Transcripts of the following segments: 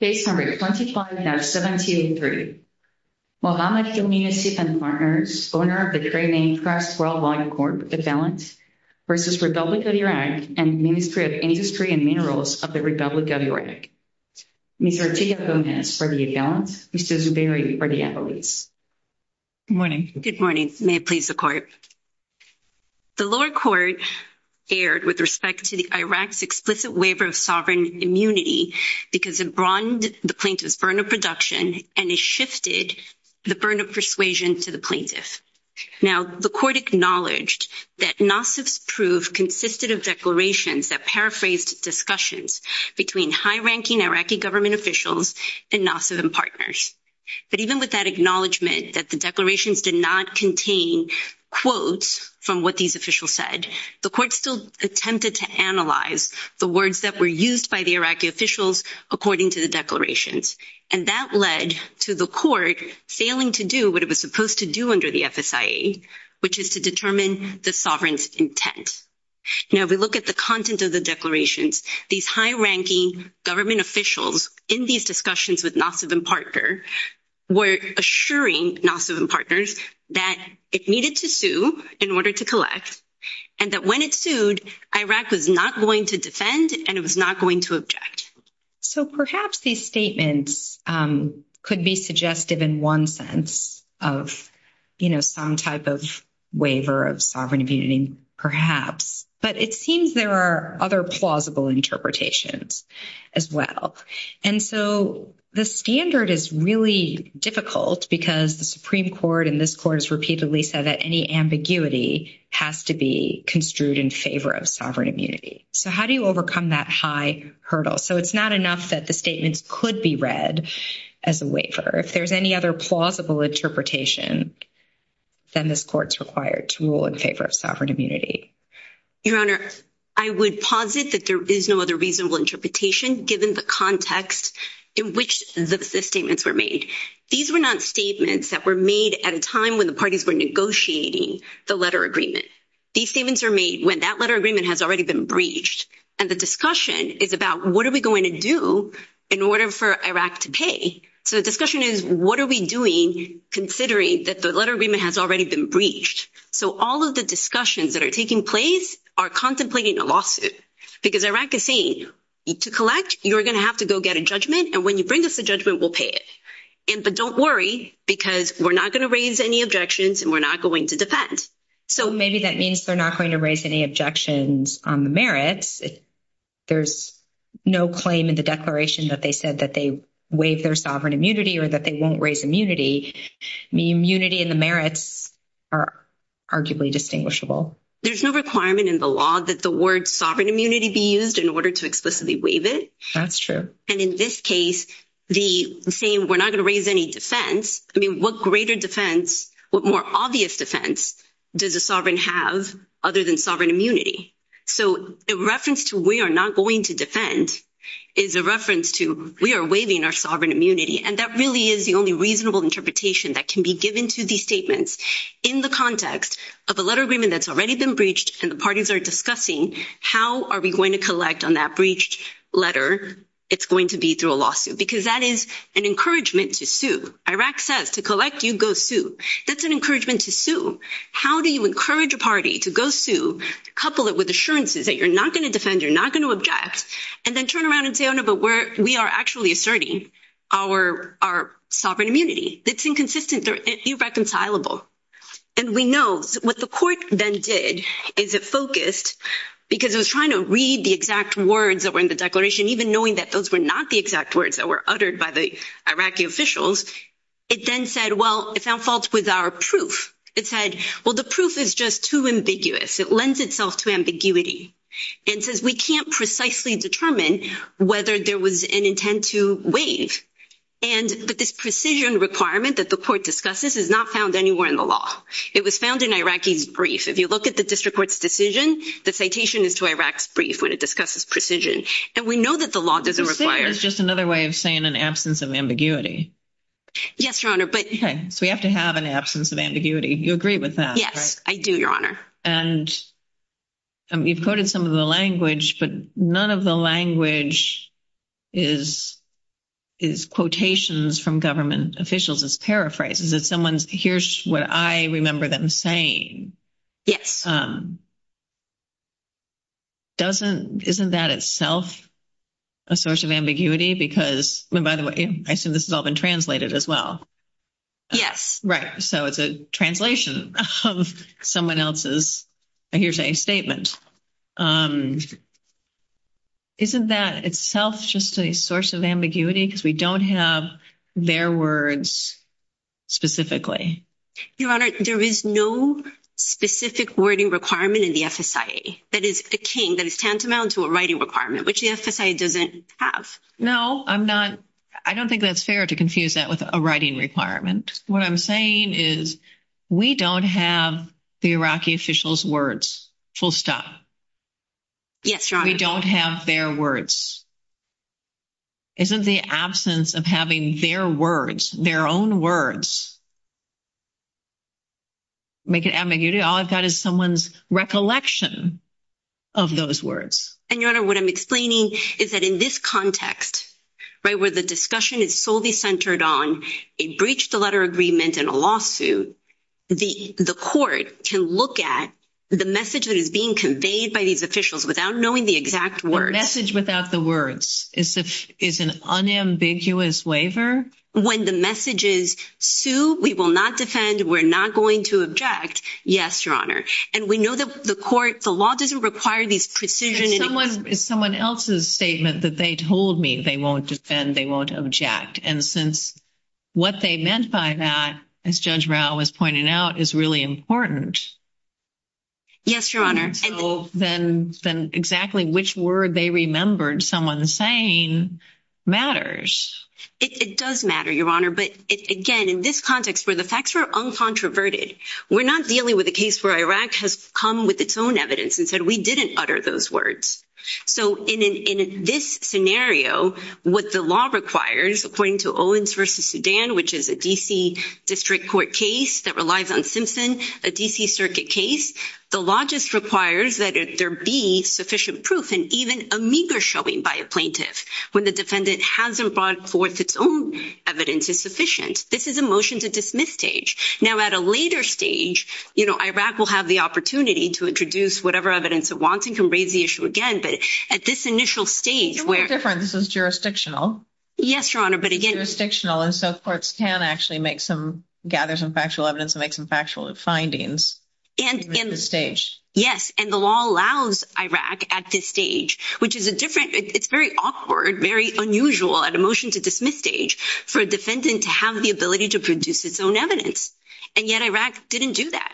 Case No. 25-17-3 Muhammad Hilmi Nassif & Partners, owner of the great-named Crest Worldwide Corp, Avalanche, v. Republic of Iraq, and Ministry of Industry and Minerals of the Republic of Iraq Ms. Artiga Gomez for the Avalanche, Mr. Zuberi for the Avalanche Good morning. Good morning. May it please the Court. The lower court erred with respect to Iraq's explicit waiver of sovereign immunity because it broadened the plaintiff's burden of production and it shifted the burden of persuasion to the plaintiff. Now, the court acknowledged that Nassif's proof consisted of declarations that paraphrased discussions between high-ranking Iraqi government officials and Nassif & Partners. But even with that acknowledgment that the declarations did not contain quotes from what these officials said, the court still attempted to analyze the words that were used by the Iraqi officials according to the declarations. And that led to the court failing to do what it was supposed to do under the FSIA, which is to determine the sovereign's intent. Now, if we look at the content of the declarations, these high-ranking government officials in these discussions with Nassif & Partners were assuring Nassif & Partners that it needed to sue in order to collect and that when it sued, Iraq was not going to defend and it was not going to object. So perhaps these statements could be suggestive in one sense of, you know, some type of waiver of sovereign immunity, perhaps, but it seems there are other plausible interpretations as well. And so the standard is really difficult because the Supreme Court and this court has repeatedly said that any ambiguity has to be construed in favor of sovereign immunity. So how do you overcome that high hurdle? So it's not enough that the statements could be read as a waiver. If there's any other plausible interpretation, then this court's required to rule in favor of sovereign immunity. Your Honor, I would posit that there is no other reasonable interpretation given the context in which the statements were made. These were not statements that were made at a time when the parties were negotiating the letter agreement. These statements were made when that letter agreement has already been breached and the discussion is about what are we going to do in order for Iraq to pay? So the discussion is what are we doing considering that the letter agreement has already been breached? So all of the discussions that are taking place are contemplating a lawsuit because Iraq is saying, to collect, you're going to have to go get a judgment and when you bring us a judgment, we'll pay it. But don't worry because we're not going to raise any objections and we're not going to defend. So maybe that means they're not going to raise any objections on the merits. There's no claim in the declaration that they said that they waive their sovereign immunity or that they won't raise immunity. The immunity and the merits are arguably distinguishable. There's no requirement in the law that the word sovereign immunity be used in order to explicitly waive it. That's true. And in this case, the same, we're not going to raise any defense. I mean, what greater defense, what more obvious defense does a sovereign have other than sovereign immunity? So a reference to we are not going to defend is a reference to we are waiving our sovereign immunity. And that really is the only reasonable interpretation that can be given to these statements. In the context of a letter agreement that's already been breached and the parties are discussing, how are we going to collect on that breached letter? It's going to be through a lawsuit because that is an encouragement to sue. Iraq says to collect, you go sue. That's an encouragement to sue. How do you encourage a party to go sue? Couple it with assurances that you're not going to defend, you're not going to object, and then turn around and say, no, but we are actually asserting our sovereign immunity. It's inconsistent. They're irreconcilable. And we know what the court then did is it focused because it was trying to read the exact words that were in the declaration, even knowing that those were not the exact words that were uttered by the Iraqi officials. It then said, well, it found fault with our proof. It said, well, the proof is just too ambiguous. It lends itself to ambiguity and says we can't precisely determine whether there was an intent to waive. And this precision requirement that the court discusses is not found anywhere in the law. It was found in Iraqi's brief. If you look at the district court's decision, the citation is to Iraq's brief when it discusses precision. And we know that the law doesn't require. It's just another way of saying an absence of ambiguity. Yes, Your Honor, but. So we have to have an absence of ambiguity. You agree with that. Yes, I do, Your Honor. And you've quoted some of the language, but none of the language is quotations from government officials. It's paraphrases. It's someone's here's what I remember them saying. Yes. Doesn't isn't that itself a source of ambiguity? Because by the way, I assume this has all been translated as well. Yes. Right. So it's a translation of someone else's here's a statement. Isn't that itself just a source of ambiguity? Because we don't have their words specifically. Your Honor, there is no specific wording requirement in the FSA. That is a king that is tantamount to a writing requirement, which the FSA doesn't have. No, I'm not. I don't think that's fair to confuse that with a writing requirement. What I'm saying is we don't have the Iraqi officials' words full stop. Yes, Your Honor. We don't have their words. Isn't the absence of having their words, their own words, make it ambiguity? All I've got is someone's recollection of those words. And Your Honor, what I'm explaining is that in this context, right, where the discussion is solely centered on a breach of the letter agreement and a lawsuit, the court can look at the message that is being conveyed by these officials without knowing the exact words. The message without the words is an unambiguous waiver? When the message is, sue, we will not defend, we're not going to object. Yes, Your Honor. And we know that the court, the law doesn't require this precision. It's someone else's statement that they told me they won't defend, they won't object. And since what they meant by that, as Judge Rao was pointing out, is really important. Yes, Your Honor. And so then exactly which word they remembered someone saying matters. It does matter, Your Honor. But again, in this context where the facts are uncontroverted, we're not dealing with a case where Iraq has come with its own evidence and said we didn't utter those words. So in this scenario, what the law requires, according to Owens v. Sudan, which is a D.C. District Court case that relies on Simpson, a D.C. Circuit case, the law just requires that there be sufficient proof and even a meager showing by a plaintiff when the defendant hasn't brought forth its own evidence is sufficient. This is a motion to dismiss stage. Now at a later stage, you know, Iraq will have the opportunity to introduce whatever evidence it wants and can raise the issue again. But at this initial stage where- This is jurisdictional. Yes, Your Honor. But again- It's jurisdictional and so courts can actually make some, gather some factual evidence and make some factual findings at this stage. Yes. And the law allows Iraq at this stage, which is a different, it's very awkward, very unusual at a motion to dismiss stage for a defendant to have the ability to produce its own evidence. And yet Iraq didn't do that.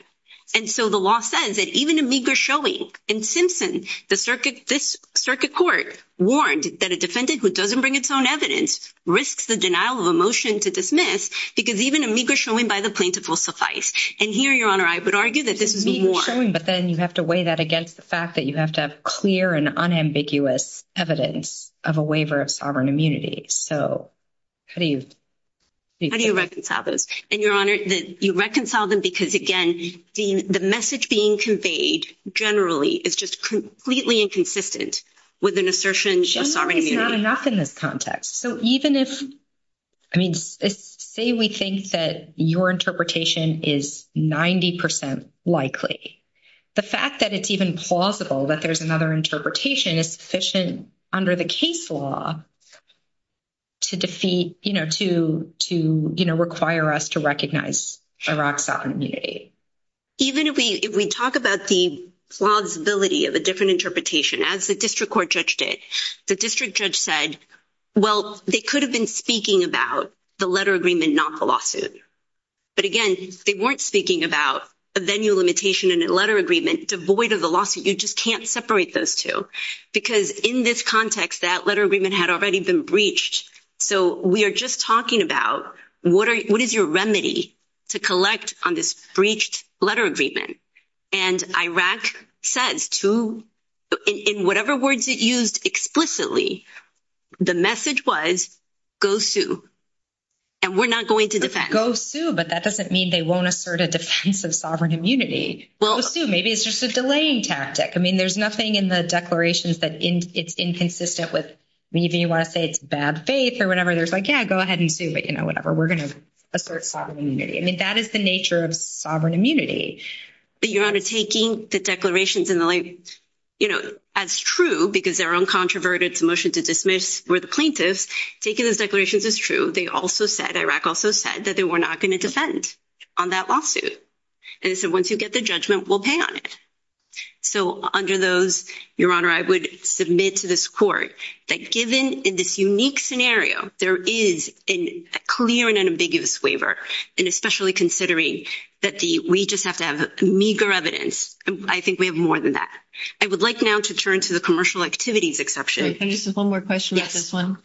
And so the law says that even a meager showing in Simpson, the circuit, this circuit court warned that a defendant who doesn't bring its own evidence risks the denial of a motion to dismiss because even a meager showing by the plaintiff will suffice. And here, Your Honor, I would argue that this is- A meager showing, but then you have to weigh that against the fact that you have to have clear and unambiguous evidence of a waiver of sovereign immunity. So how do you- How do you reconcile those? And, Your Honor, you reconcile them because, again, the message being conveyed generally is just completely inconsistent with an assertion of sovereign immunity. I think it's not enough in this context. So even if, I mean, say we think that your interpretation is 90% likely, the fact that it's even plausible that there's another interpretation is sufficient under the case law to defeat, you know, to, you know, require us to recognize Iraq's sovereign immunity. Even if we talk about the plausibility of a different interpretation, as the district court judge did, the district judge said, well, they could have been speaking about the letter agreement, not the lawsuit. But again, they weren't speaking about a venue limitation in a letter agreement devoid of the lawsuit. You just can't separate those two. Because in this context, that letter agreement had already been breached. So we are just talking about what is your remedy to collect on this breached letter agreement? And Iraq says to, in whatever words it used explicitly, the message was, go sue. And we're not going to defend. Go sue, but that doesn't mean they won't assert a defense of sovereign immunity. Go sue, maybe it's just a delaying tactic. I mean, there's nothing in the declarations that it's inconsistent with. Maybe you want to say it's bad faith or whatever. There's like, yeah, go ahead and sue, but, you know, whatever. We're going to assert sovereign immunity. I mean, that is the nature of sovereign immunity. But, Your Honor, taking the declarations in the light, you know, as true, because they're uncontroverted, it's a motion to dismiss for the plaintiffs. Taking those declarations is true. They also said, Iraq also said, that they were not going to defend on that lawsuit. And they said, once you get the judgment, we'll pay on it. So, under those, Your Honor, I would submit to this court that given in this unique scenario, there is a clear and unambiguous waiver. And especially considering that we just have to have meager evidence. I think we have more than that. I would like now to turn to the commercial activities exception. Can I just ask one more question about this one?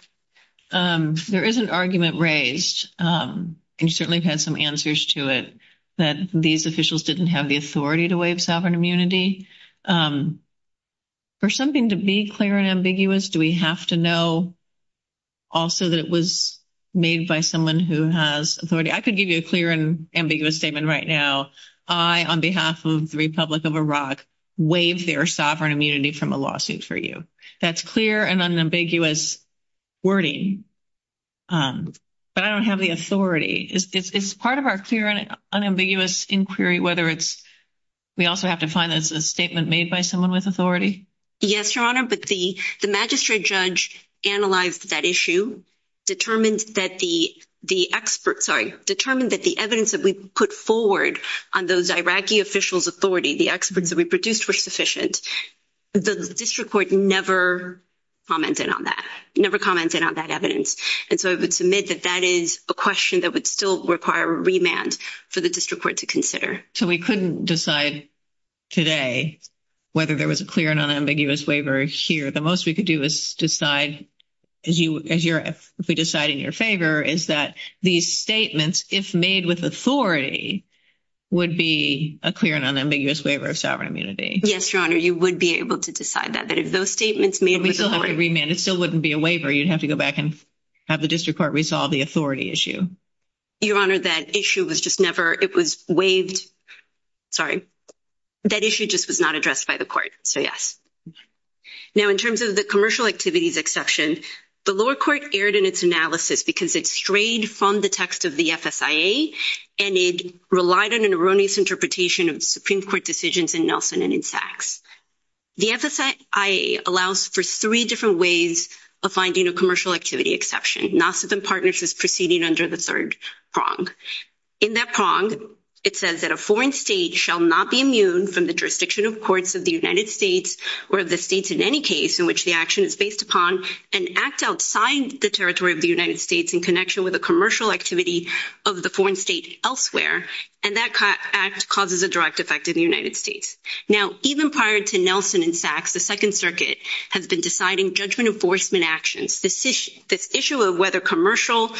There is an argument raised, and you certainly have had some answers to it, that these officials didn't have the authority to waive sovereign immunity. For something to be clear and ambiguous, do we have to know also that it was made by someone who has authority? I could give you a clear and ambiguous statement right now. I, on behalf of the Republic of Iraq, waived their sovereign immunity from a lawsuit for you. That's clear and unambiguous wording. But I don't have the authority. Is part of our clear and unambiguous inquiry, whether we also have to find that it's a statement made by someone with authority? Yes, Your Honor. But the magistrate judge analyzed that issue, determined that the evidence that we put forward on those Iraqi officials' authority, the experts that we produced, were sufficient. The district court never commented on that. Never commented on that evidence. And so I would submit that that is a question that would still require a remand for the district court to consider. So we couldn't decide today whether there was a clear and unambiguous waiver here. The most we could do is decide, if we decide in your favor, is that these statements, if made with authority, would be a clear and unambiguous waiver of sovereign immunity. Yes, Your Honor. You would be able to decide that, that if those statements made with authority. But we still have to remand. It still wouldn't be a waiver. You'd have to go back and have the district court resolve the authority issue. Your Honor, that issue was just never, it was waived. Sorry. That issue just was not addressed by the court. So, yes. Now, in terms of the commercial activities exception, the lower court erred in its analysis because it strayed from the text of the FSIA, and it relied on an erroneous interpretation of Supreme Court decisions in Nelson and in Sachs. The FSIA allows for three different ways of finding a commercial activity exception. NASA and Partners is proceeding under the third prong. In that prong, it says that a foreign state shall not be immune from the jurisdiction of courts of the United States, or of the states in any case in which the action is based upon, and act outside the territory of the United States in connection with a commercial activity of the foreign state elsewhere. And that act causes a direct effect in the United States. Now, even prior to Nelson and Sachs, the Second Circuit has been deciding judgment enforcement actions. This issue of whether commercial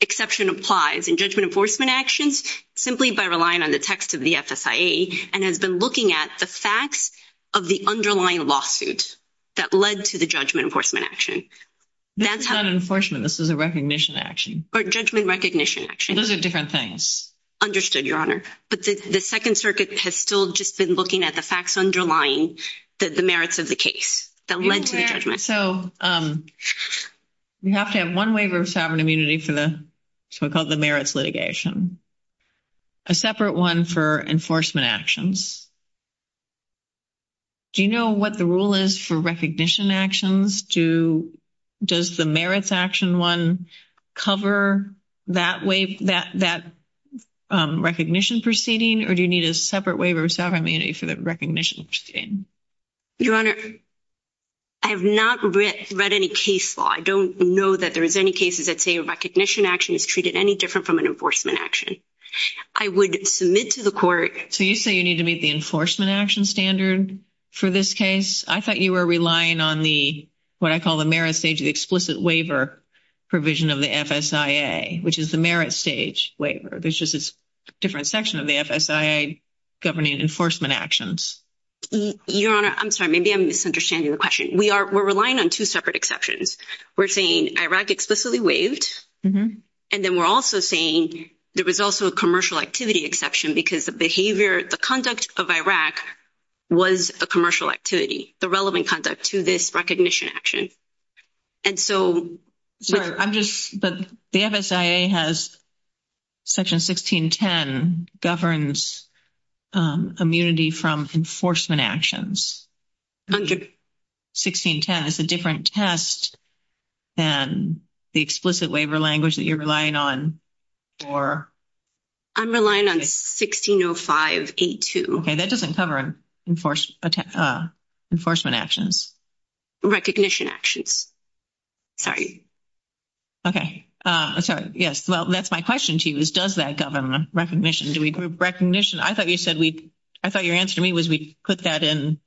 exception applies in judgment enforcement actions, simply by relying on the text of the FSIA, and has been looking at the facts of the underlying lawsuit that led to the judgment enforcement action. That's not enforcement. This is a recognition action. Or judgment recognition action. Those are different things. Understood, Your Honor. But the Second Circuit has still just been looking at the facts underlying the merits of the case that led to the judgment. So, you have to have one waiver of sovereign immunity for the, so we call it the merits litigation. A separate one for enforcement actions. Do you know what the rule is for recognition actions? Does the merits action one cover that recognition proceeding? Or do you need a separate waiver of sovereign immunity for the recognition proceeding? Your Honor, I have not read any case law. I don't know that there is any cases that say a recognition action is treated any different from an enforcement action. I would submit to the court. So, you say you need to meet the enforcement action standard for this case? I thought you were relying on the, what I call the merit stage, the explicit waiver provision of the FSIA, which is the merit stage waiver. There's just a different section of the FSIA governing enforcement actions. Your Honor, I'm sorry, maybe I'm misunderstanding the question. We're relying on two separate exceptions. We're saying Iraq explicitly waived. And then we're also saying there was also a commercial activity exception because the behavior, the conduct of Iraq was a commercial activity, the relevant conduct to this recognition action. But the FSIA has section 1610 governs immunity from enforcement actions. 1610 is a different test than the explicit waiver language that you're relying on. Or? I'm relying on 1605A2. Okay, that doesn't cover enforcement actions. Recognition actions. Sorry. Okay. Sorry. Yes. Well, that's my question to you is does that govern recognition? Do we group recognition? I thought you said we, I thought your answer to me was we put that in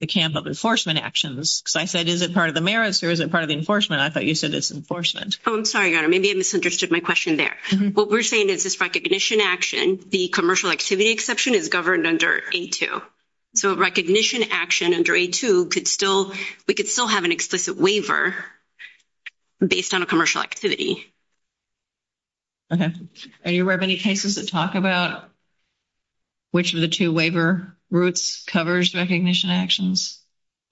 the camp of enforcement actions. Because I said, is it part of the merits or is it part of the enforcement? I thought you said it's enforcement. Oh, I'm sorry, Your Honor. Maybe I misunderstood my question there. What we're saying is this recognition action, the commercial activity exception is governed under A2. So recognition action under A2 could still, we could still have an explicit waiver based on a commercial activity. Okay. Are you aware of any cases that talk about which of the two waiver routes covers recognition actions?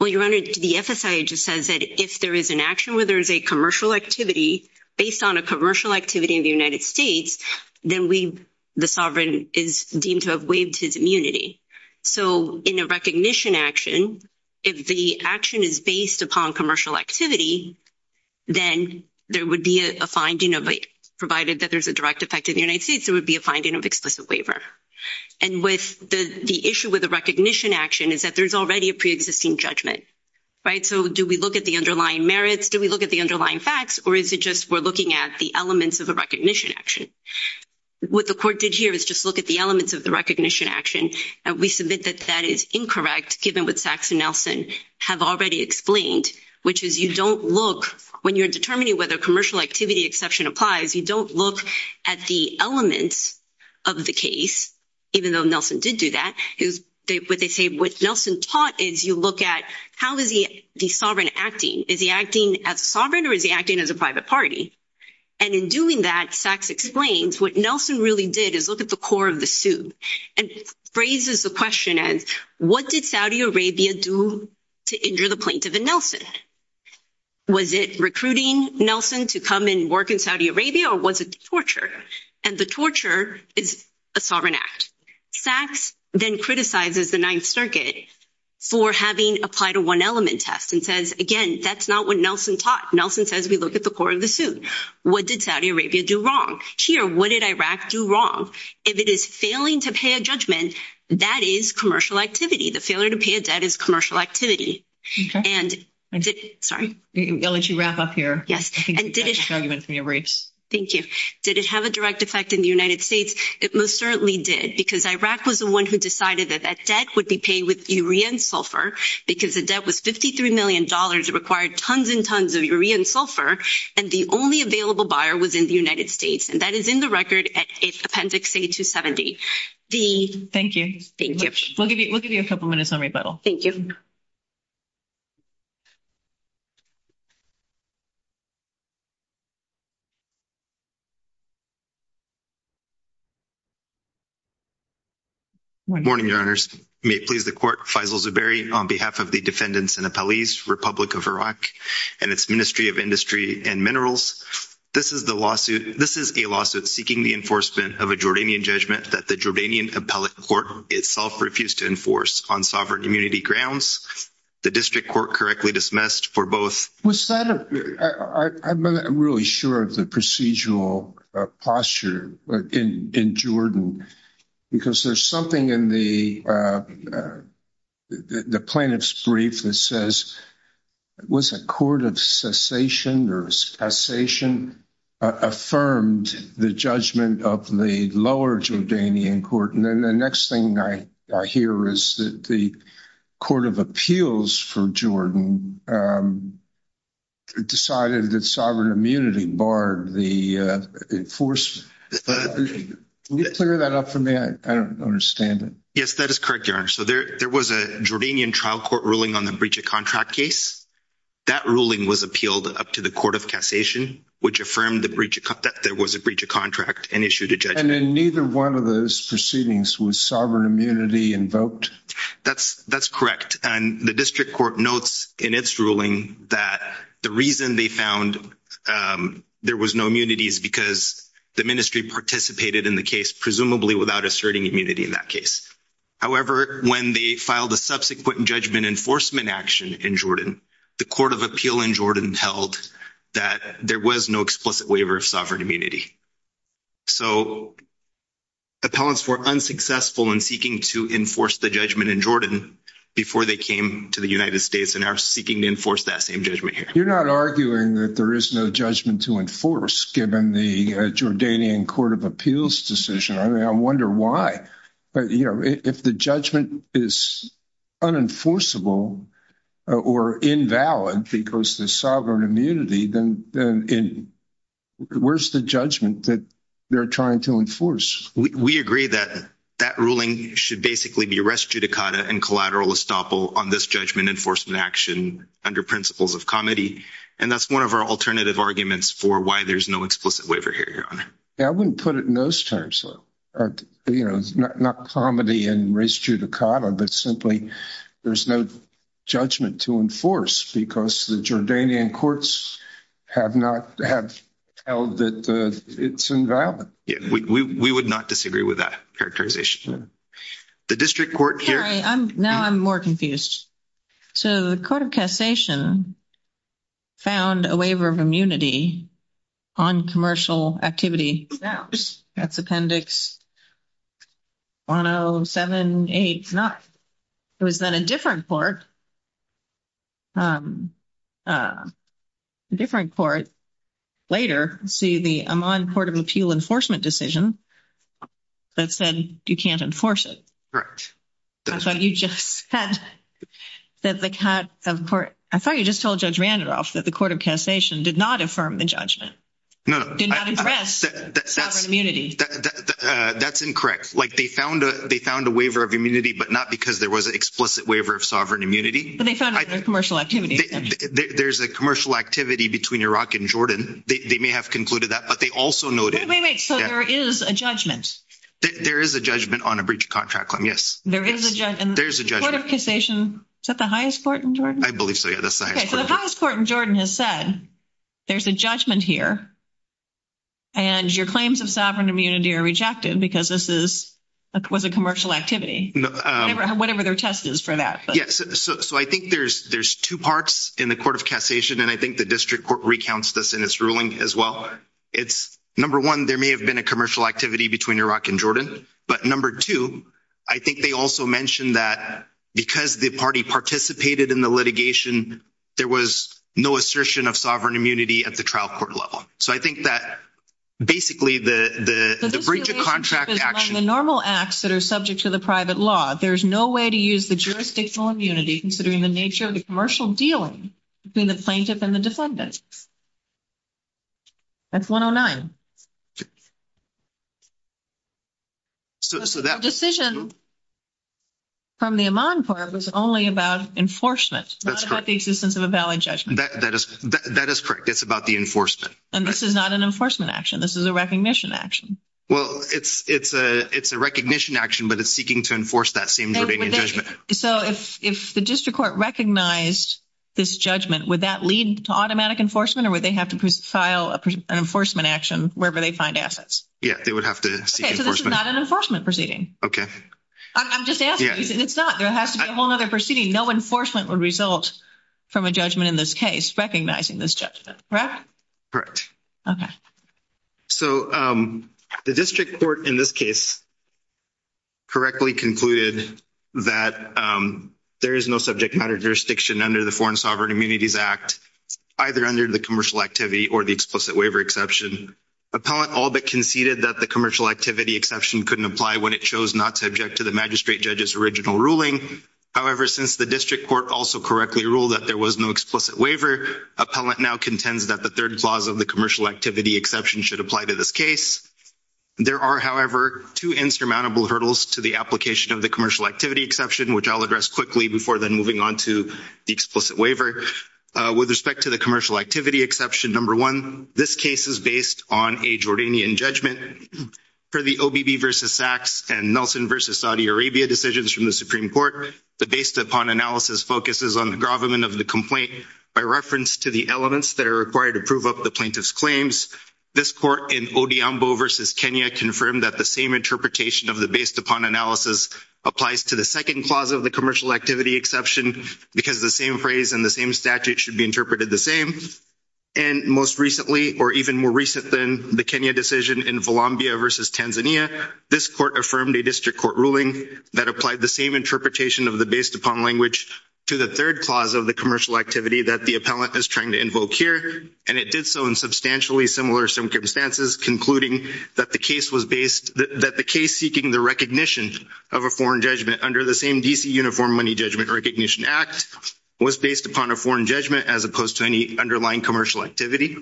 Well, Your Honor, the FSIA just says that if there is an action where there is a commercial activity, based on a commercial activity in the United States, then we, the sovereign is deemed to have waived his immunity. So in a recognition action, if the action is based upon commercial activity, then there would be a finding of, provided that there's a direct effect in the United States, there would be a finding of explicit waiver. And with the issue with the recognition action is that there's already a preexisting judgment, right? And so do we look at the underlying merits? Do we look at the underlying facts or is it just we're looking at the elements of a recognition action? What the court did here is just look at the elements of the recognition action. And we submit that that is incorrect given what Sachs and Nelson have already explained, which is you don't look, when you're determining whether commercial activity exception applies, you don't look at the elements of the case, even though Nelson did do that. What they say, what Nelson taught is you look at how is the sovereign acting? Is he acting as sovereign or is he acting as a private party? And in doing that, Sachs explains what Nelson really did is look at the core of the suit and phrases the question as, what did Saudi Arabia do to injure the plaintiff and Nelson? Was it recruiting Nelson to come and work in Saudi Arabia or was it torture? And the torture is a sovereign act. Sachs then criticizes the Ninth Circuit for having applied a one-element test and says, again, that's not what Nelson taught. Nelson says we look at the core of the suit. What did Saudi Arabia do wrong? Here, what did Iraq do wrong? If it is failing to pay a judgment, that is commercial activity. The failure to pay a debt is commercial activity. Sorry. I'll let you wrap up here. Yes. I think that's a good argument from your briefs. Thank you. Did it have a direct effect in the United States? It most certainly did because Iraq was the one who decided that that debt would be paid with urea and sulfur because the debt was $53 million. It required tons and tons of urea and sulfur, and the only available buyer was in the United States, and that is in the record at Appendix A270. Thank you. Thank you. We'll give you a couple minutes on rebuttal. Thank you. Morning, Your Honors. May it please the Court, Faisal Zubairi, on behalf of the defendants and appellees, Republic of Iraq, and its Ministry of Industry and Minerals, this is a lawsuit seeking the enforcement of a Jordanian judgment that the Jordanian appellate court itself refused to enforce on sovereign immunity grounds. The district court correctly dismissed for both. I'm not really sure of the procedural posture in Jordan because there's something in the plaintiff's brief that says, was a court of cessation or a cessation affirmed the judgment of the lower Jordanian court? The next thing I hear is that the court of appeals for Jordan decided that sovereign immunity barred the enforcement. Can you clear that up for me? I don't understand it. Yes, that is correct, Your Honor. So there was a Jordanian trial court ruling on the breach of contract case. That ruling was appealed up to the court of cassation, which affirmed that there was a breach of contract and issued a judgment. And in neither one of those proceedings was sovereign immunity invoked? That's correct. And the district court notes in its ruling that the reason they found there was no immunity is because the ministry participated in the case, presumably without asserting immunity in that case. However, when they filed a subsequent judgment enforcement action in Jordan, the court of appeal in Jordan held that there was no explicit waiver of sovereign immunity. So appellants were unsuccessful in seeking to enforce the judgment in Jordan before they came to the United States and are seeking to enforce that same judgment here. You're not arguing that there is no judgment to enforce given the Jordanian court of appeals decision. I mean, I wonder why. But, you know, if the judgment is unenforceable or invalid because the sovereign immunity, then where's the judgment that they're trying to enforce? We agree that that ruling should basically be res judicata and collateral estoppel on this judgment enforcement action under principles of comedy. And that's one of our alternative arguments for why there's no explicit waiver here, Your Honor. I wouldn't put it in those terms, though. You know, not comedy and res judicata, but simply there's no judgment to enforce because the Jordanian courts have not held that it's invalid. We would not disagree with that characterization. The district court here. Now I'm more confused. So the court of cassation found a waiver of immunity on commercial activity. That's appendix 10789. It was then a different court. A different court. Later, see the Amman Court of Appeal enforcement decision that said you can't enforce it. Correct. That's what you just said. I thought you just told Judge Randolph that the court of cassation did not affirm the judgment. No, that's that's that's that's incorrect. Like they found a they found a waiver of immunity, but not because there was an explicit waiver of sovereign immunity. But they found a commercial activity. There's a commercial activity between Iraq and Jordan. They may have concluded that, but they also know. Wait, wait, wait. So there is a judgment. There is a judgment on a breach of contract claim. Yes, there is. And there's a judgment of cassation. Is that the highest court in Jordan? I believe so. The highest court in Jordan has said there's a judgment here. And your claims of sovereign immunity are rejected because this is a commercial activity. Whatever their test is for that. Yes. So I think there's, there's two parts in the court of cassation. And I think the district court recounts this in its ruling as well. It's number one, there may have been a commercial activity between Iraq and Jordan, but number two, I think they also mentioned that because the party participated in the litigation, there was no assertion of sovereign immunity at the trial court level. So I think that basically the breach of contract action. The normal acts that are subject to the private law, there's no way to use the jurisdictional immunity considering the nature of the commercial dealing between the plaintiff and the defendant. That's 109. So that decision. From the Amman part was only about enforcement, not about the existence of a valid judgment. That is correct. It's about the enforcement. And this is not an enforcement action. This is a recognition action. Well, it's, it's a, it's a recognition action, but it's seeking to enforce that same judgment. So if, if the district court recognized this judgment, would that lead to automatic enforcement or would they have to file an affidavit or whatever they find assets? Yeah, they would have to see. Okay. So this is not an enforcement proceeding. Okay. I'm just asking. It's not, there has to be a whole nother proceeding. No enforcement would result from a judgment in this case, recognizing this judgment. Correct. Correct. Okay. So the district court in this case. Correctly concluded that there is no subject matter jurisdiction under the foreign sovereign immunities act, either under the commercial activity or the explicit waiver exception appellant, all that conceded that the commercial activity exception couldn't apply when it chose not to object to the magistrate judges, original ruling. since the district court also correctly ruled that there was no explicit waiver appellant now contends that the third clause of the commercial activity exception should apply to this case. There are however, two insurmountable hurdles to the application of the commercial activity exception, which I'll address quickly before then moving on to the explicit waiver. With respect to the commercial activity exception. Number one, this case is based on a Jordanian judgment for the OBB versus SACS and Nelson versus Saudi Arabia decisions from the Supreme court. The based upon analysis focuses on the government of the complaint by reference to the elements that are required to prove up the plaintiff's claims. This court in Odiombo versus Kenya confirmed that the same interpretation of the based upon analysis applies to the second clause of the commercial activity exception because the same phrase and the same statute should be interpreted the same. And most recently, or even more recent than the Kenya decision in Volambia versus Tanzania, this court affirmed a district court ruling that applied the same interpretation of the based upon language to the third clause of the commercial activity that the appellant is trying to invoke here. And it did so in substantially similar circumstances, concluding that the case was based, that the case seeking the recognition of a foreign judgment under the same DC uniform money judgment or recognition act was based upon a foreign judgment as opposed to any underlying commercial activity.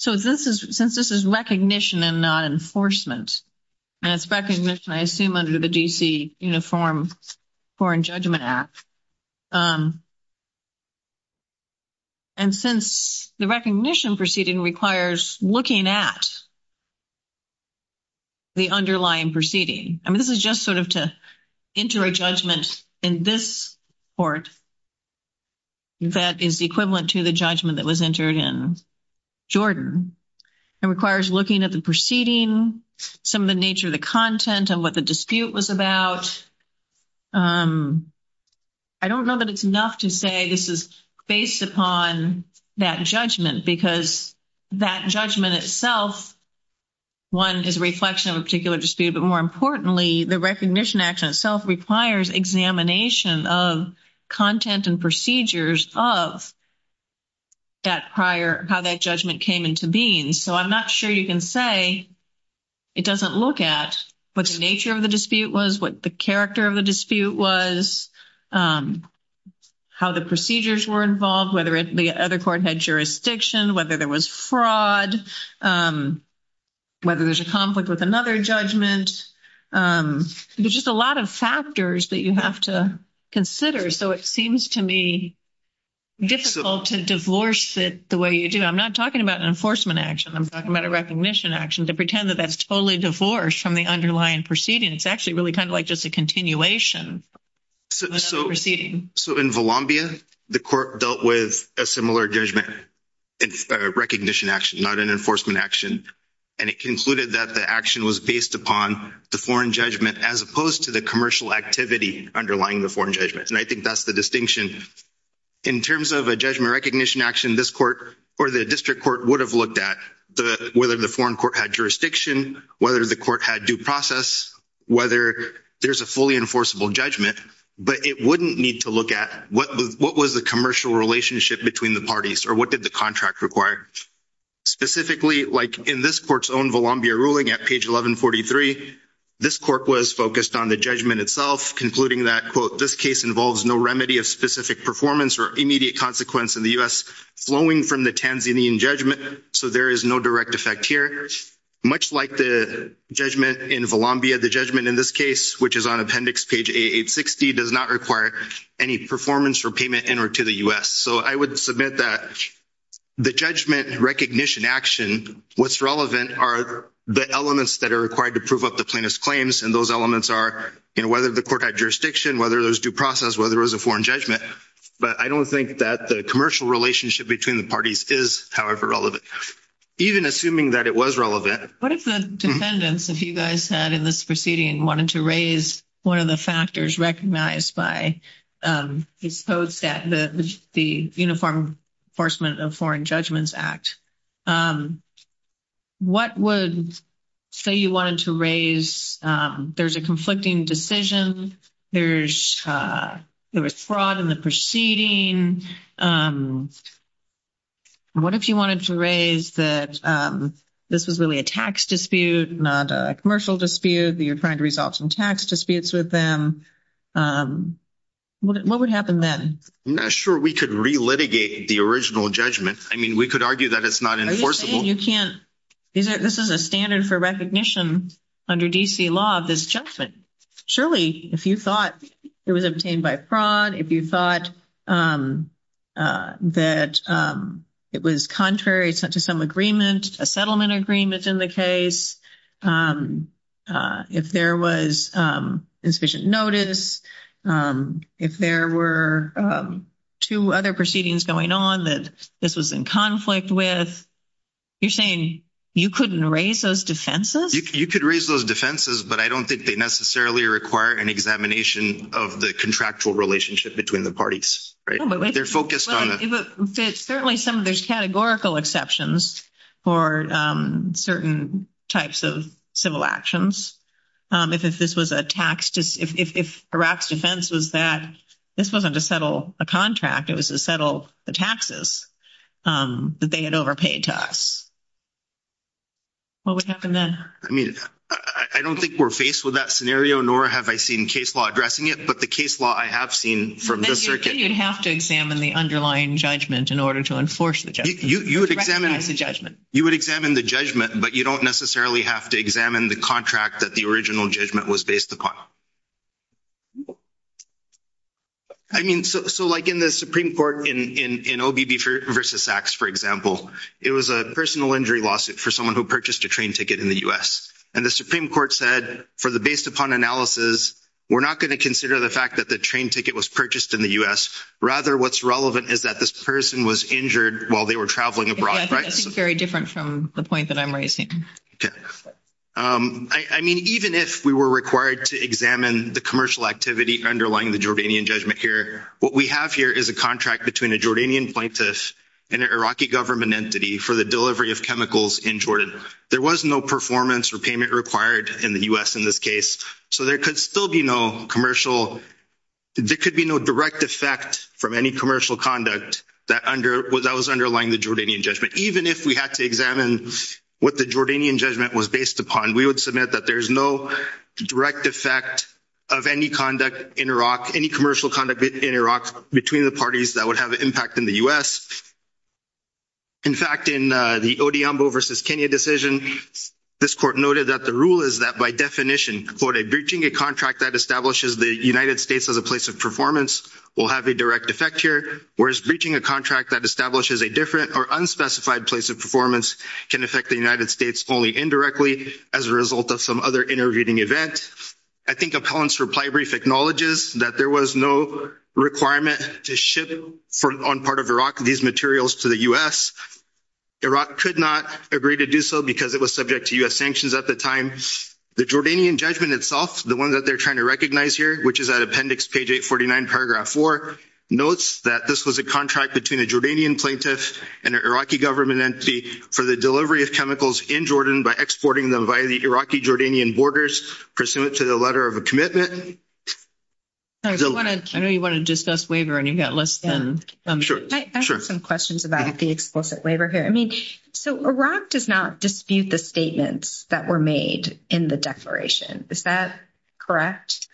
So this is, since this is recognition and not enforcement and it's recognition, I assume under the DC uniform foreign judgment app. And since the recognition proceeding requires looking at the underlying proceeding, I mean, this is just sort of to enter a judgment in this court. That is the equivalent to the judgment that was entered in Jordan and requires looking at the proceeding, some of the nature of the content of what the dispute was about. I don't know that it's enough to say this is based upon that judgment because that judgment itself. One is a reflection of a particular dispute, but more importantly, the recognition action itself requires examination of content and procedures of that prior, how that judgment came into being. So I'm not sure you can say it doesn't look at what the nature of the dispute was, what the character of the dispute was, how the procedures were involved, whether the other court had jurisdiction, whether there was fraud, whether there's a conflict with another judgment. There's just a lot of factors that you have to consider. So it seems to me difficult to divorce it the way you do. I'm not talking about an enforcement action. I'm talking about a recognition action to pretend that that's totally divorced from the underlying proceeding. It's actually really kind of like just a continuation. So in Volambia, the court dealt with a similar judgment recognition action, not an enforcement action, and it concluded that the action was based upon the foreign judgment as opposed to the commercial activity underlying the foreign judgment, and I think that's the distinction. In terms of a judgment recognition action, this court or the district court would have looked at whether the foreign court had jurisdiction, whether the court had due process, whether there's a fully enforceable judgment, but it wouldn't need to look at what was the commercial relationship between the parties or what did the contract require. Specifically, like in this court's own Volambia ruling at page 1143, this court was focused on the judgment itself, concluding that, quote, this case involves no remedy of specific performance or immediate consequence in the U.S. flowing from the Tanzanian judgment, so there is no direct effect here. Much like the judgment in Volambia, the judgment in this case, which is on appendix page 860, does not require any performance or payment in or to the U.S. So I would submit that the judgment recognition action, what's relevant are the elements that are required to prove up the plaintiff's claims, and those elements are whether the court had jurisdiction, whether there was due process, whether there was a foreign judgment, but I don't think that the commercial relationship between the parties is however relevant. Even assuming that it was relevant. What if the defendants, if you guys had in this proceeding and wanted to raise one of the factors recognized by this code set, the Uniform Enforcement of Foreign Judgments Act, what would say you wanted to raise? There's a conflicting decision, there was fraud in the proceeding. What if you wanted to raise that this was really a tax dispute, not a commercial dispute, that you're trying to resolve some tax disputes with them? What would happen then? Sure, we could re-litigate the original judgment. I mean, we could argue that it's not enforceable. Are you saying you can't? This is a standard for recognition under D.C. law of this judgment. Surely, if you thought it was obtained by fraud, if you thought that it was contrary to some agreement, a settlement agreement in the case, if there was insufficient notice, if there were two other proceedings going on that this was in conflict with, you're saying you couldn't raise those defenses? You could raise those defenses, but I don't think they necessarily require an examination of the contractual relationship between the parties, right? They're focused on the… Certainly, there's categorical exceptions for certain types of civil actions. If Iraq's defense was that this wasn't to settle a contract, it was to settle the taxes that they had overpaid to us. What would happen then? I mean, I don't think we're faced with that scenario, nor have I seen case law addressing it, but the case law I have seen from the circuit… Then you'd have to examine the underlying judgment in order to enforce the judgment. You would examine the judgment, but you don't necessarily have to examine the contract that the original judgment was based upon. I mean, so like in the Supreme Court, in OBB v. Sachs, for example, it was a personal injury lawsuit for someone who purchased a train ticket in the U.S. and the Supreme Court said, based upon analysis, we're not going to consider the fact that the train ticket was purchased in the U.S. Rather, what's relevant is that this person was injured while they were traveling abroad, right? Yeah, I think that's very different from the point that I'm raising. Okay. I mean, even if we were required to examine the commercial activity underlying the Jordanian judgment here, what we have here is a contract between a Jordanian plaintiff and an Iraqi government entity for the delivery of chemicals in Jordan. There was no performance or payment required in the U.S. in this case, so there could still be no commercial, there could be no direct effect from any commercial conduct that was underlying the Jordanian judgment. Even if we had to examine what the Jordanian judgment was based upon, we would submit that there's no direct effect of any conduct in Iraq, any commercial conduct in Iraq between the parties that would have an impact in the U.S. In fact, in the Oduambo versus Kenya decision, this court noted that the rule is that by definition, quote, a breaching a contract that establishes the United States as a place of performance will have a direct effect here, whereas breaching a contract that establishes a different or unspecified place of performance can affect the United States only indirectly as a result of some other intervening event. I think appellant's reply brief acknowledges that there was no requirement to ship on part of Iraq. These materials to the U.S. Iraq could not agree to do so because it was subject to U.S. sanctions at the time. The Jordanian judgment itself, the one that they're trying to recognize here, which is at appendix page 849 paragraph four, notes that this was a contract between a Jordanian plaintiff and an Iraqi government entity for the delivery of chemicals in Jordan by exporting them via the Iraqi Jordanian borders, pursuant to the letter of a commitment. I know you want to discuss waiver and you've got less than. Sure. I have some questions about the explicit waiver here. I mean, so Iraq does not dispute the statements that were made in the declaration. Is that correct?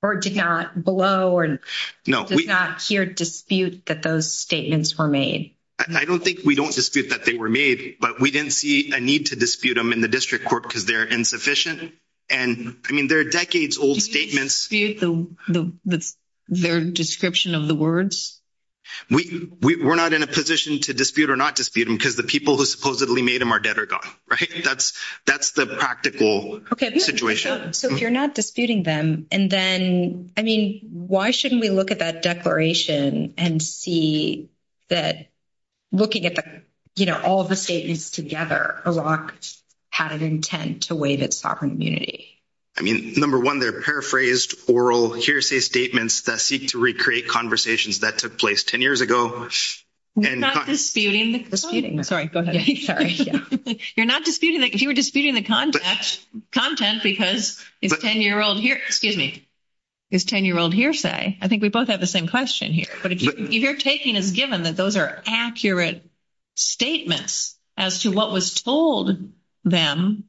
Or did not blow or not hear dispute that those statements were made? I don't think we don't dispute that they were made, but we didn't see a need to dispute them in the district court because they're insufficient. And I mean, there are decades old statements. Their description of the words. We were not in a position to dispute or not dispute them because the people who supposedly made them are dead or gone. Right. That's, that's the practical situation. So if you're not disputing them and then, I mean, why shouldn't we look at that declaration and see that looking at the, you know, all of the statements together Iraq had an intent to waive its sovereign immunity. I mean, number one, they're paraphrased oral hearsay statements that seek to recreate conversations that took place 10 years ago. Disputing the disputing. Sorry, go ahead. You're not disputing that if you were disputing the content content, because it's 10 year old here, excuse me. Is 10 year old hearsay. I think we both have the same question here, but if you're taking as given that those are accurate statements as to what was told them,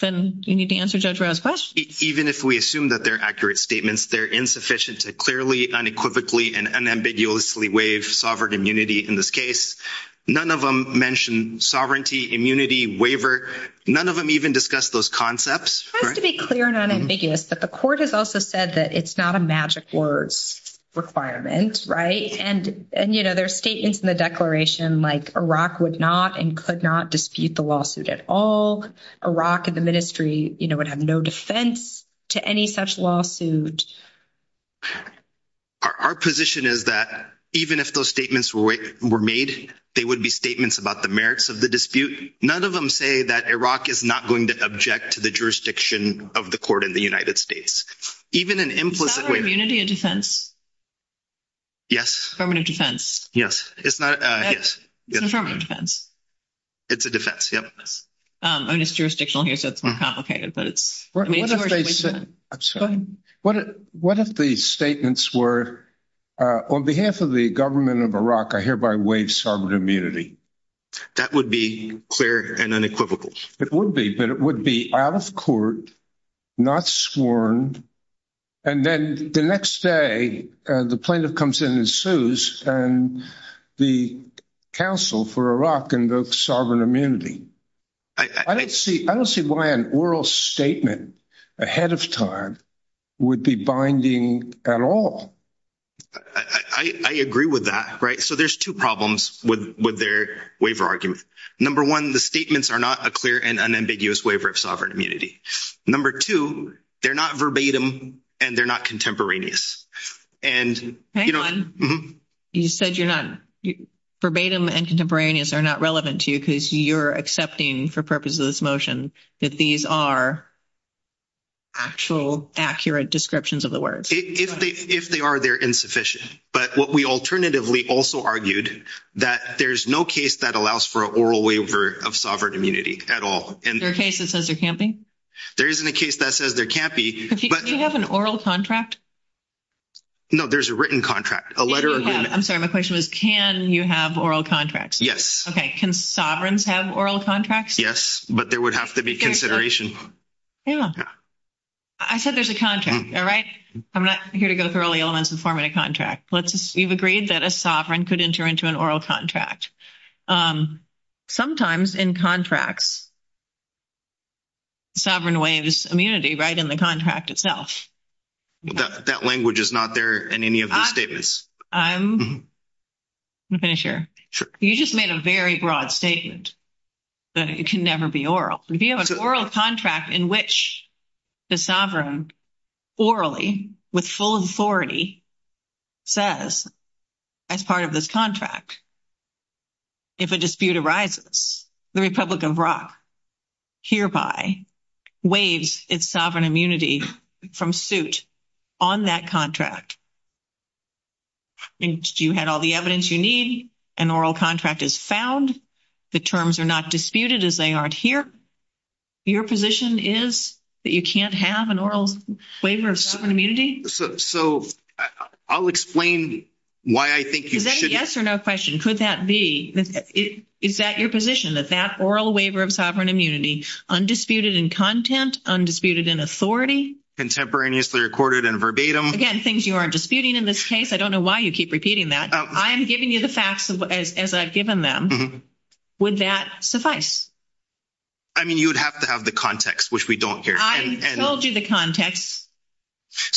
then you need to answer judge Rose question. Even if we assume that they're accurate statements, they're insufficient to clearly unequivocally and unambiguously wave sovereign immunity. In this case, none of them mentioned sovereignty, immunity waiver. None of them even discussed those concepts. It has to be clear and unambiguous that the court has also said that it's not a magic words requirement. Right. And, and, you know, there are statements in the declaration like Iraq would not and could not dispute the lawsuit at all. Iraq and the ministry, you know, would have no defense to any such lawsuit. Our position is that even if those statements were made, they would be statements about the merits of the dispute. None of them say that Iraq is not going to object to the jurisdiction of the court in the United States, even an implicit way. Immunity and defense. Yes, permanent defense. Yes, it's not. Yes. It's a defense. Yep. I mean, it's jurisdictional here, so it's more complicated, but it's. I'm sorry. What if the statements were on behalf of the government of Iraq, I hereby waive sovereign immunity. That would be clear and unequivocal. It would be, but it would be out of court, not sworn. And then the next day, the plaintiff comes in and sues and the council for Iraq and the sovereign immunity. I don't see, I don't see why an oral statement ahead of time would be binding at all. I agree with that. Right. So there's two problems with their waiver argument. Number one, the statements are not a clear and unambiguous waiver of sovereign immunity. Number two, they're not verbatim and they're not contemporaneous. And you said you're not verbatim and contemporaneous are not relevant to you because you're accepting for purposes of this motion that these are. Actual accurate descriptions of the words, if they, if they are, they're insufficient, but what we alternatively also argued that there's no case that allows for an oral waiver of sovereign immunity at all. And there are cases that says there can't be, there isn't a case that says there can't be, but you have an oral contract. No, there's a written contract, a letter. I'm sorry. My question was, can you have oral contracts? Yes. Okay. Can sovereigns have oral contracts? Yes, but there would have to be consideration. Yeah. Yeah. I said, there's a contract. All right. I'm not here to go through all the elements of forming a contract. Let's just, you've agreed that a sovereign could enter into an oral contract. Sometimes in contracts. Sovereign waves immunity, right. In the contract itself. That language is not there in any of the statements. I'm going to finish here. Sure. You just made a very broad statement. That it can never be oral. If you have an oral contract in which the sovereign. Orally with full authority. Says as part of this contract. If a dispute arises, the Republic of rock. Hereby waves it's sovereign immunity from suit. On that contract. And you had all the evidence you need. An oral contract is found. The terms are not disputed as they aren't here. Your position is that you can't have an oral waiver of immunity. So I'll explain why I think you should. Yes or no question. Could that be. Is that your position that that oral waiver of sovereign immunity. Undisputed in content, undisputed in authority. Contemporaneously recorded and verbatim. Again, things you aren't disputing in this case. I don't know why you keep repeating that. I am giving you the facts as I've given them. Would that suffice? I mean, you would have to have the context, which we don't hear. I told you the context.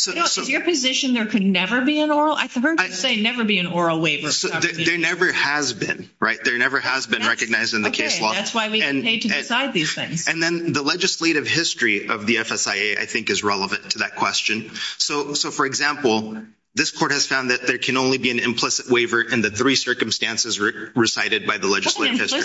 Is your position there could never be an oral? I heard you say never be an oral waiver. There never has been right. There never has been recognized in the case law. That's why we need to decide these things. And then the legislative history of the FSIA, I think, is relevant to that question. So, for example, this court has found that there can only be an implicit waiver in the three circumstances recited by the legislative history.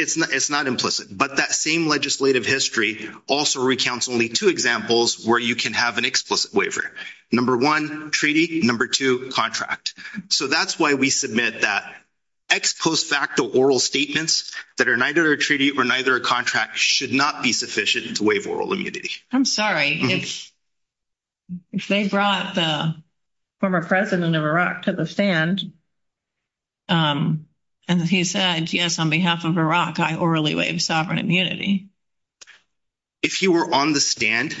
It's not implicit. But that same legislative history also recounts only two examples where you can have an explicit waiver. Number one, treaty. Number two, contract. So that's why we submit that ex post facto oral statements that are neither a treaty or neither a contract should not be sufficient to waive oral immunity. I'm sorry. If they brought the former president of Iraq to the stand and he said, yes, on behalf of Iraq, I orally waive sovereign immunity. If you were on the stand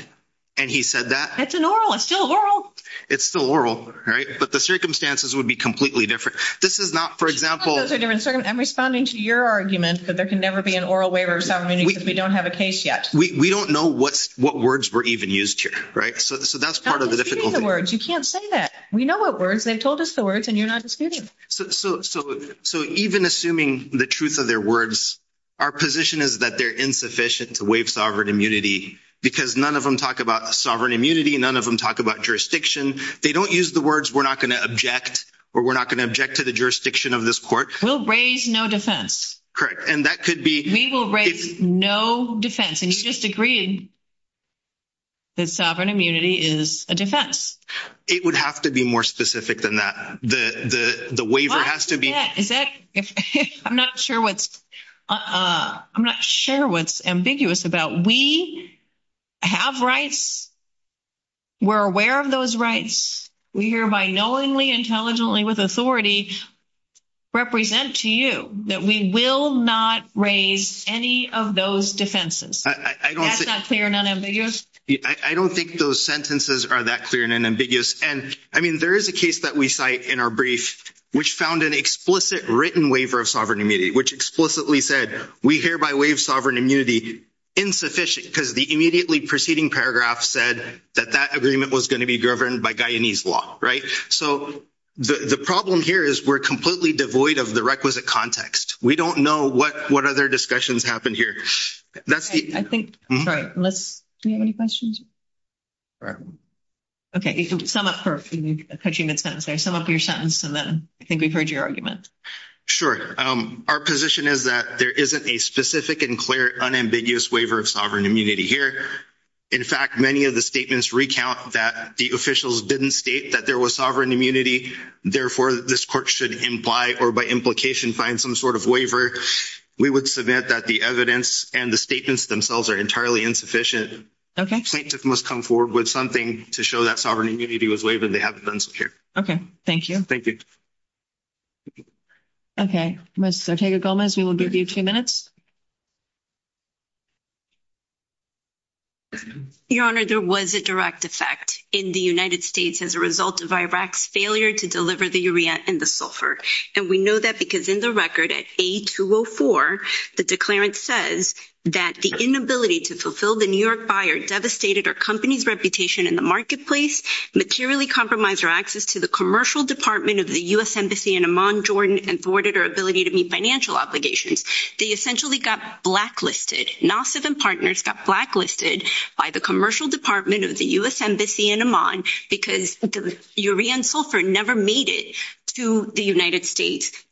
and he said that. It's an oral. It's still oral. It's still oral. But the circumstances would be completely different. This is not, for example. I'm responding to your argument that there can never be an oral waiver of sovereign immunity because we don't have a case yet. We don't know what words were even used here. So that's part of the difficulty. You can't say that. We know what words. They've told us the words and you're not disputing them. So even assuming the truth of their words, our position is that they're insufficient to waive sovereign immunity because none of them talk about sovereign immunity. None of them talk about jurisdiction. They don't use the words we're not going to object or we're not going to object to the jurisdiction of this court. We'll raise no defense. And that could be. We will raise no defense. And you just agreed. The sovereign immunity is a defense. It would have to be more specific than that. The waiver has to be. Is that if I'm not sure what's I'm not sure what's ambiguous about. We have rights. We're aware of those rights. We hear by knowingly intelligently with authority represent to you that we will not raise any of those defenses. I don't think they're not ambiguous. I don't think those sentences are that clear and ambiguous. And, I mean, there is a case that we cite in our brief, which found an explicit written waiver of sovereign immunity, which explicitly said, we hereby waive sovereign immunity insufficient because the immediately preceding paragraph said that that agreement was going to be governed by Guyanese law. Right. So, the problem here is we're completely devoid of the requisite context. We don't know what what other discussions happened here. That's the I think. Unless you have any questions. Okay, sum up your sentence and then I think we've heard your argument. Sure. Our position is that there isn't a specific and clear unambiguous waiver of sovereign immunity here. In fact, many of the statements recount that the officials didn't state that there was sovereign immunity. Therefore, this court should imply or by implication, find some sort of waiver. We would submit that the evidence and the statements themselves are entirely insufficient. Okay, must come forward with something to show that sovereign immunity was waiving. They haven't been here. Okay, thank you. Thank you. Okay, let's take a Gomez. We will give you 2 minutes. Your honor, there was a direct effect in the United States as a result of Iraq's failure to deliver the area and the sulfur. And we know that because in the record at a 204, the declarant says that the inability to fulfill the New York buyer devastated our company's reputation in the marketplace. Materially compromised our access to the commercial department of the U.S. Embassy in Amman, Jordan, and thwarted our ability to meet financial obligations. They essentially got blacklisted NASA than partners got blacklisted by the commercial department of the U.S.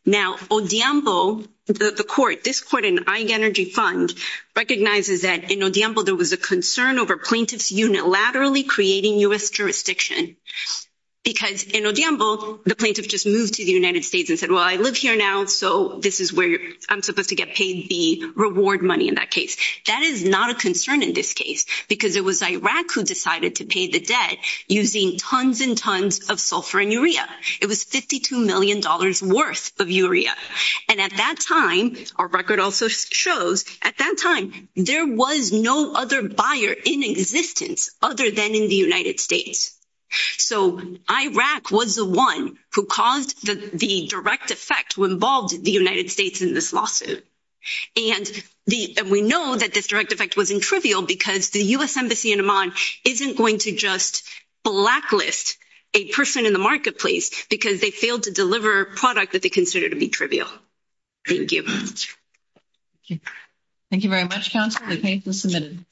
Now, the court, this court and energy fund recognizes that there was a concern over plaintiff's unit laterally creating U.S. jurisdiction. Because the plaintiff just moved to the United States and said, well, I live here now. So this is where I'm supposed to get paid the reward money in that case. That is not a concern in this case, because it was Iraq who decided to pay the debt using tons and tons of sulfur and urea. It was $52 million worth of urea. And at that time, our record also shows, at that time, there was no other buyer in existence other than in the United States. So Iraq was the one who caused the direct effect, who involved the United States in this lawsuit. And we know that this direct effect wasn't trivial because the U.S. Embassy in Amman isn't going to just blacklist a person in the marketplace because they failed to deliver a product that they consider to be trivial. Thank you. Thank you very much, counsel. The case is submitted.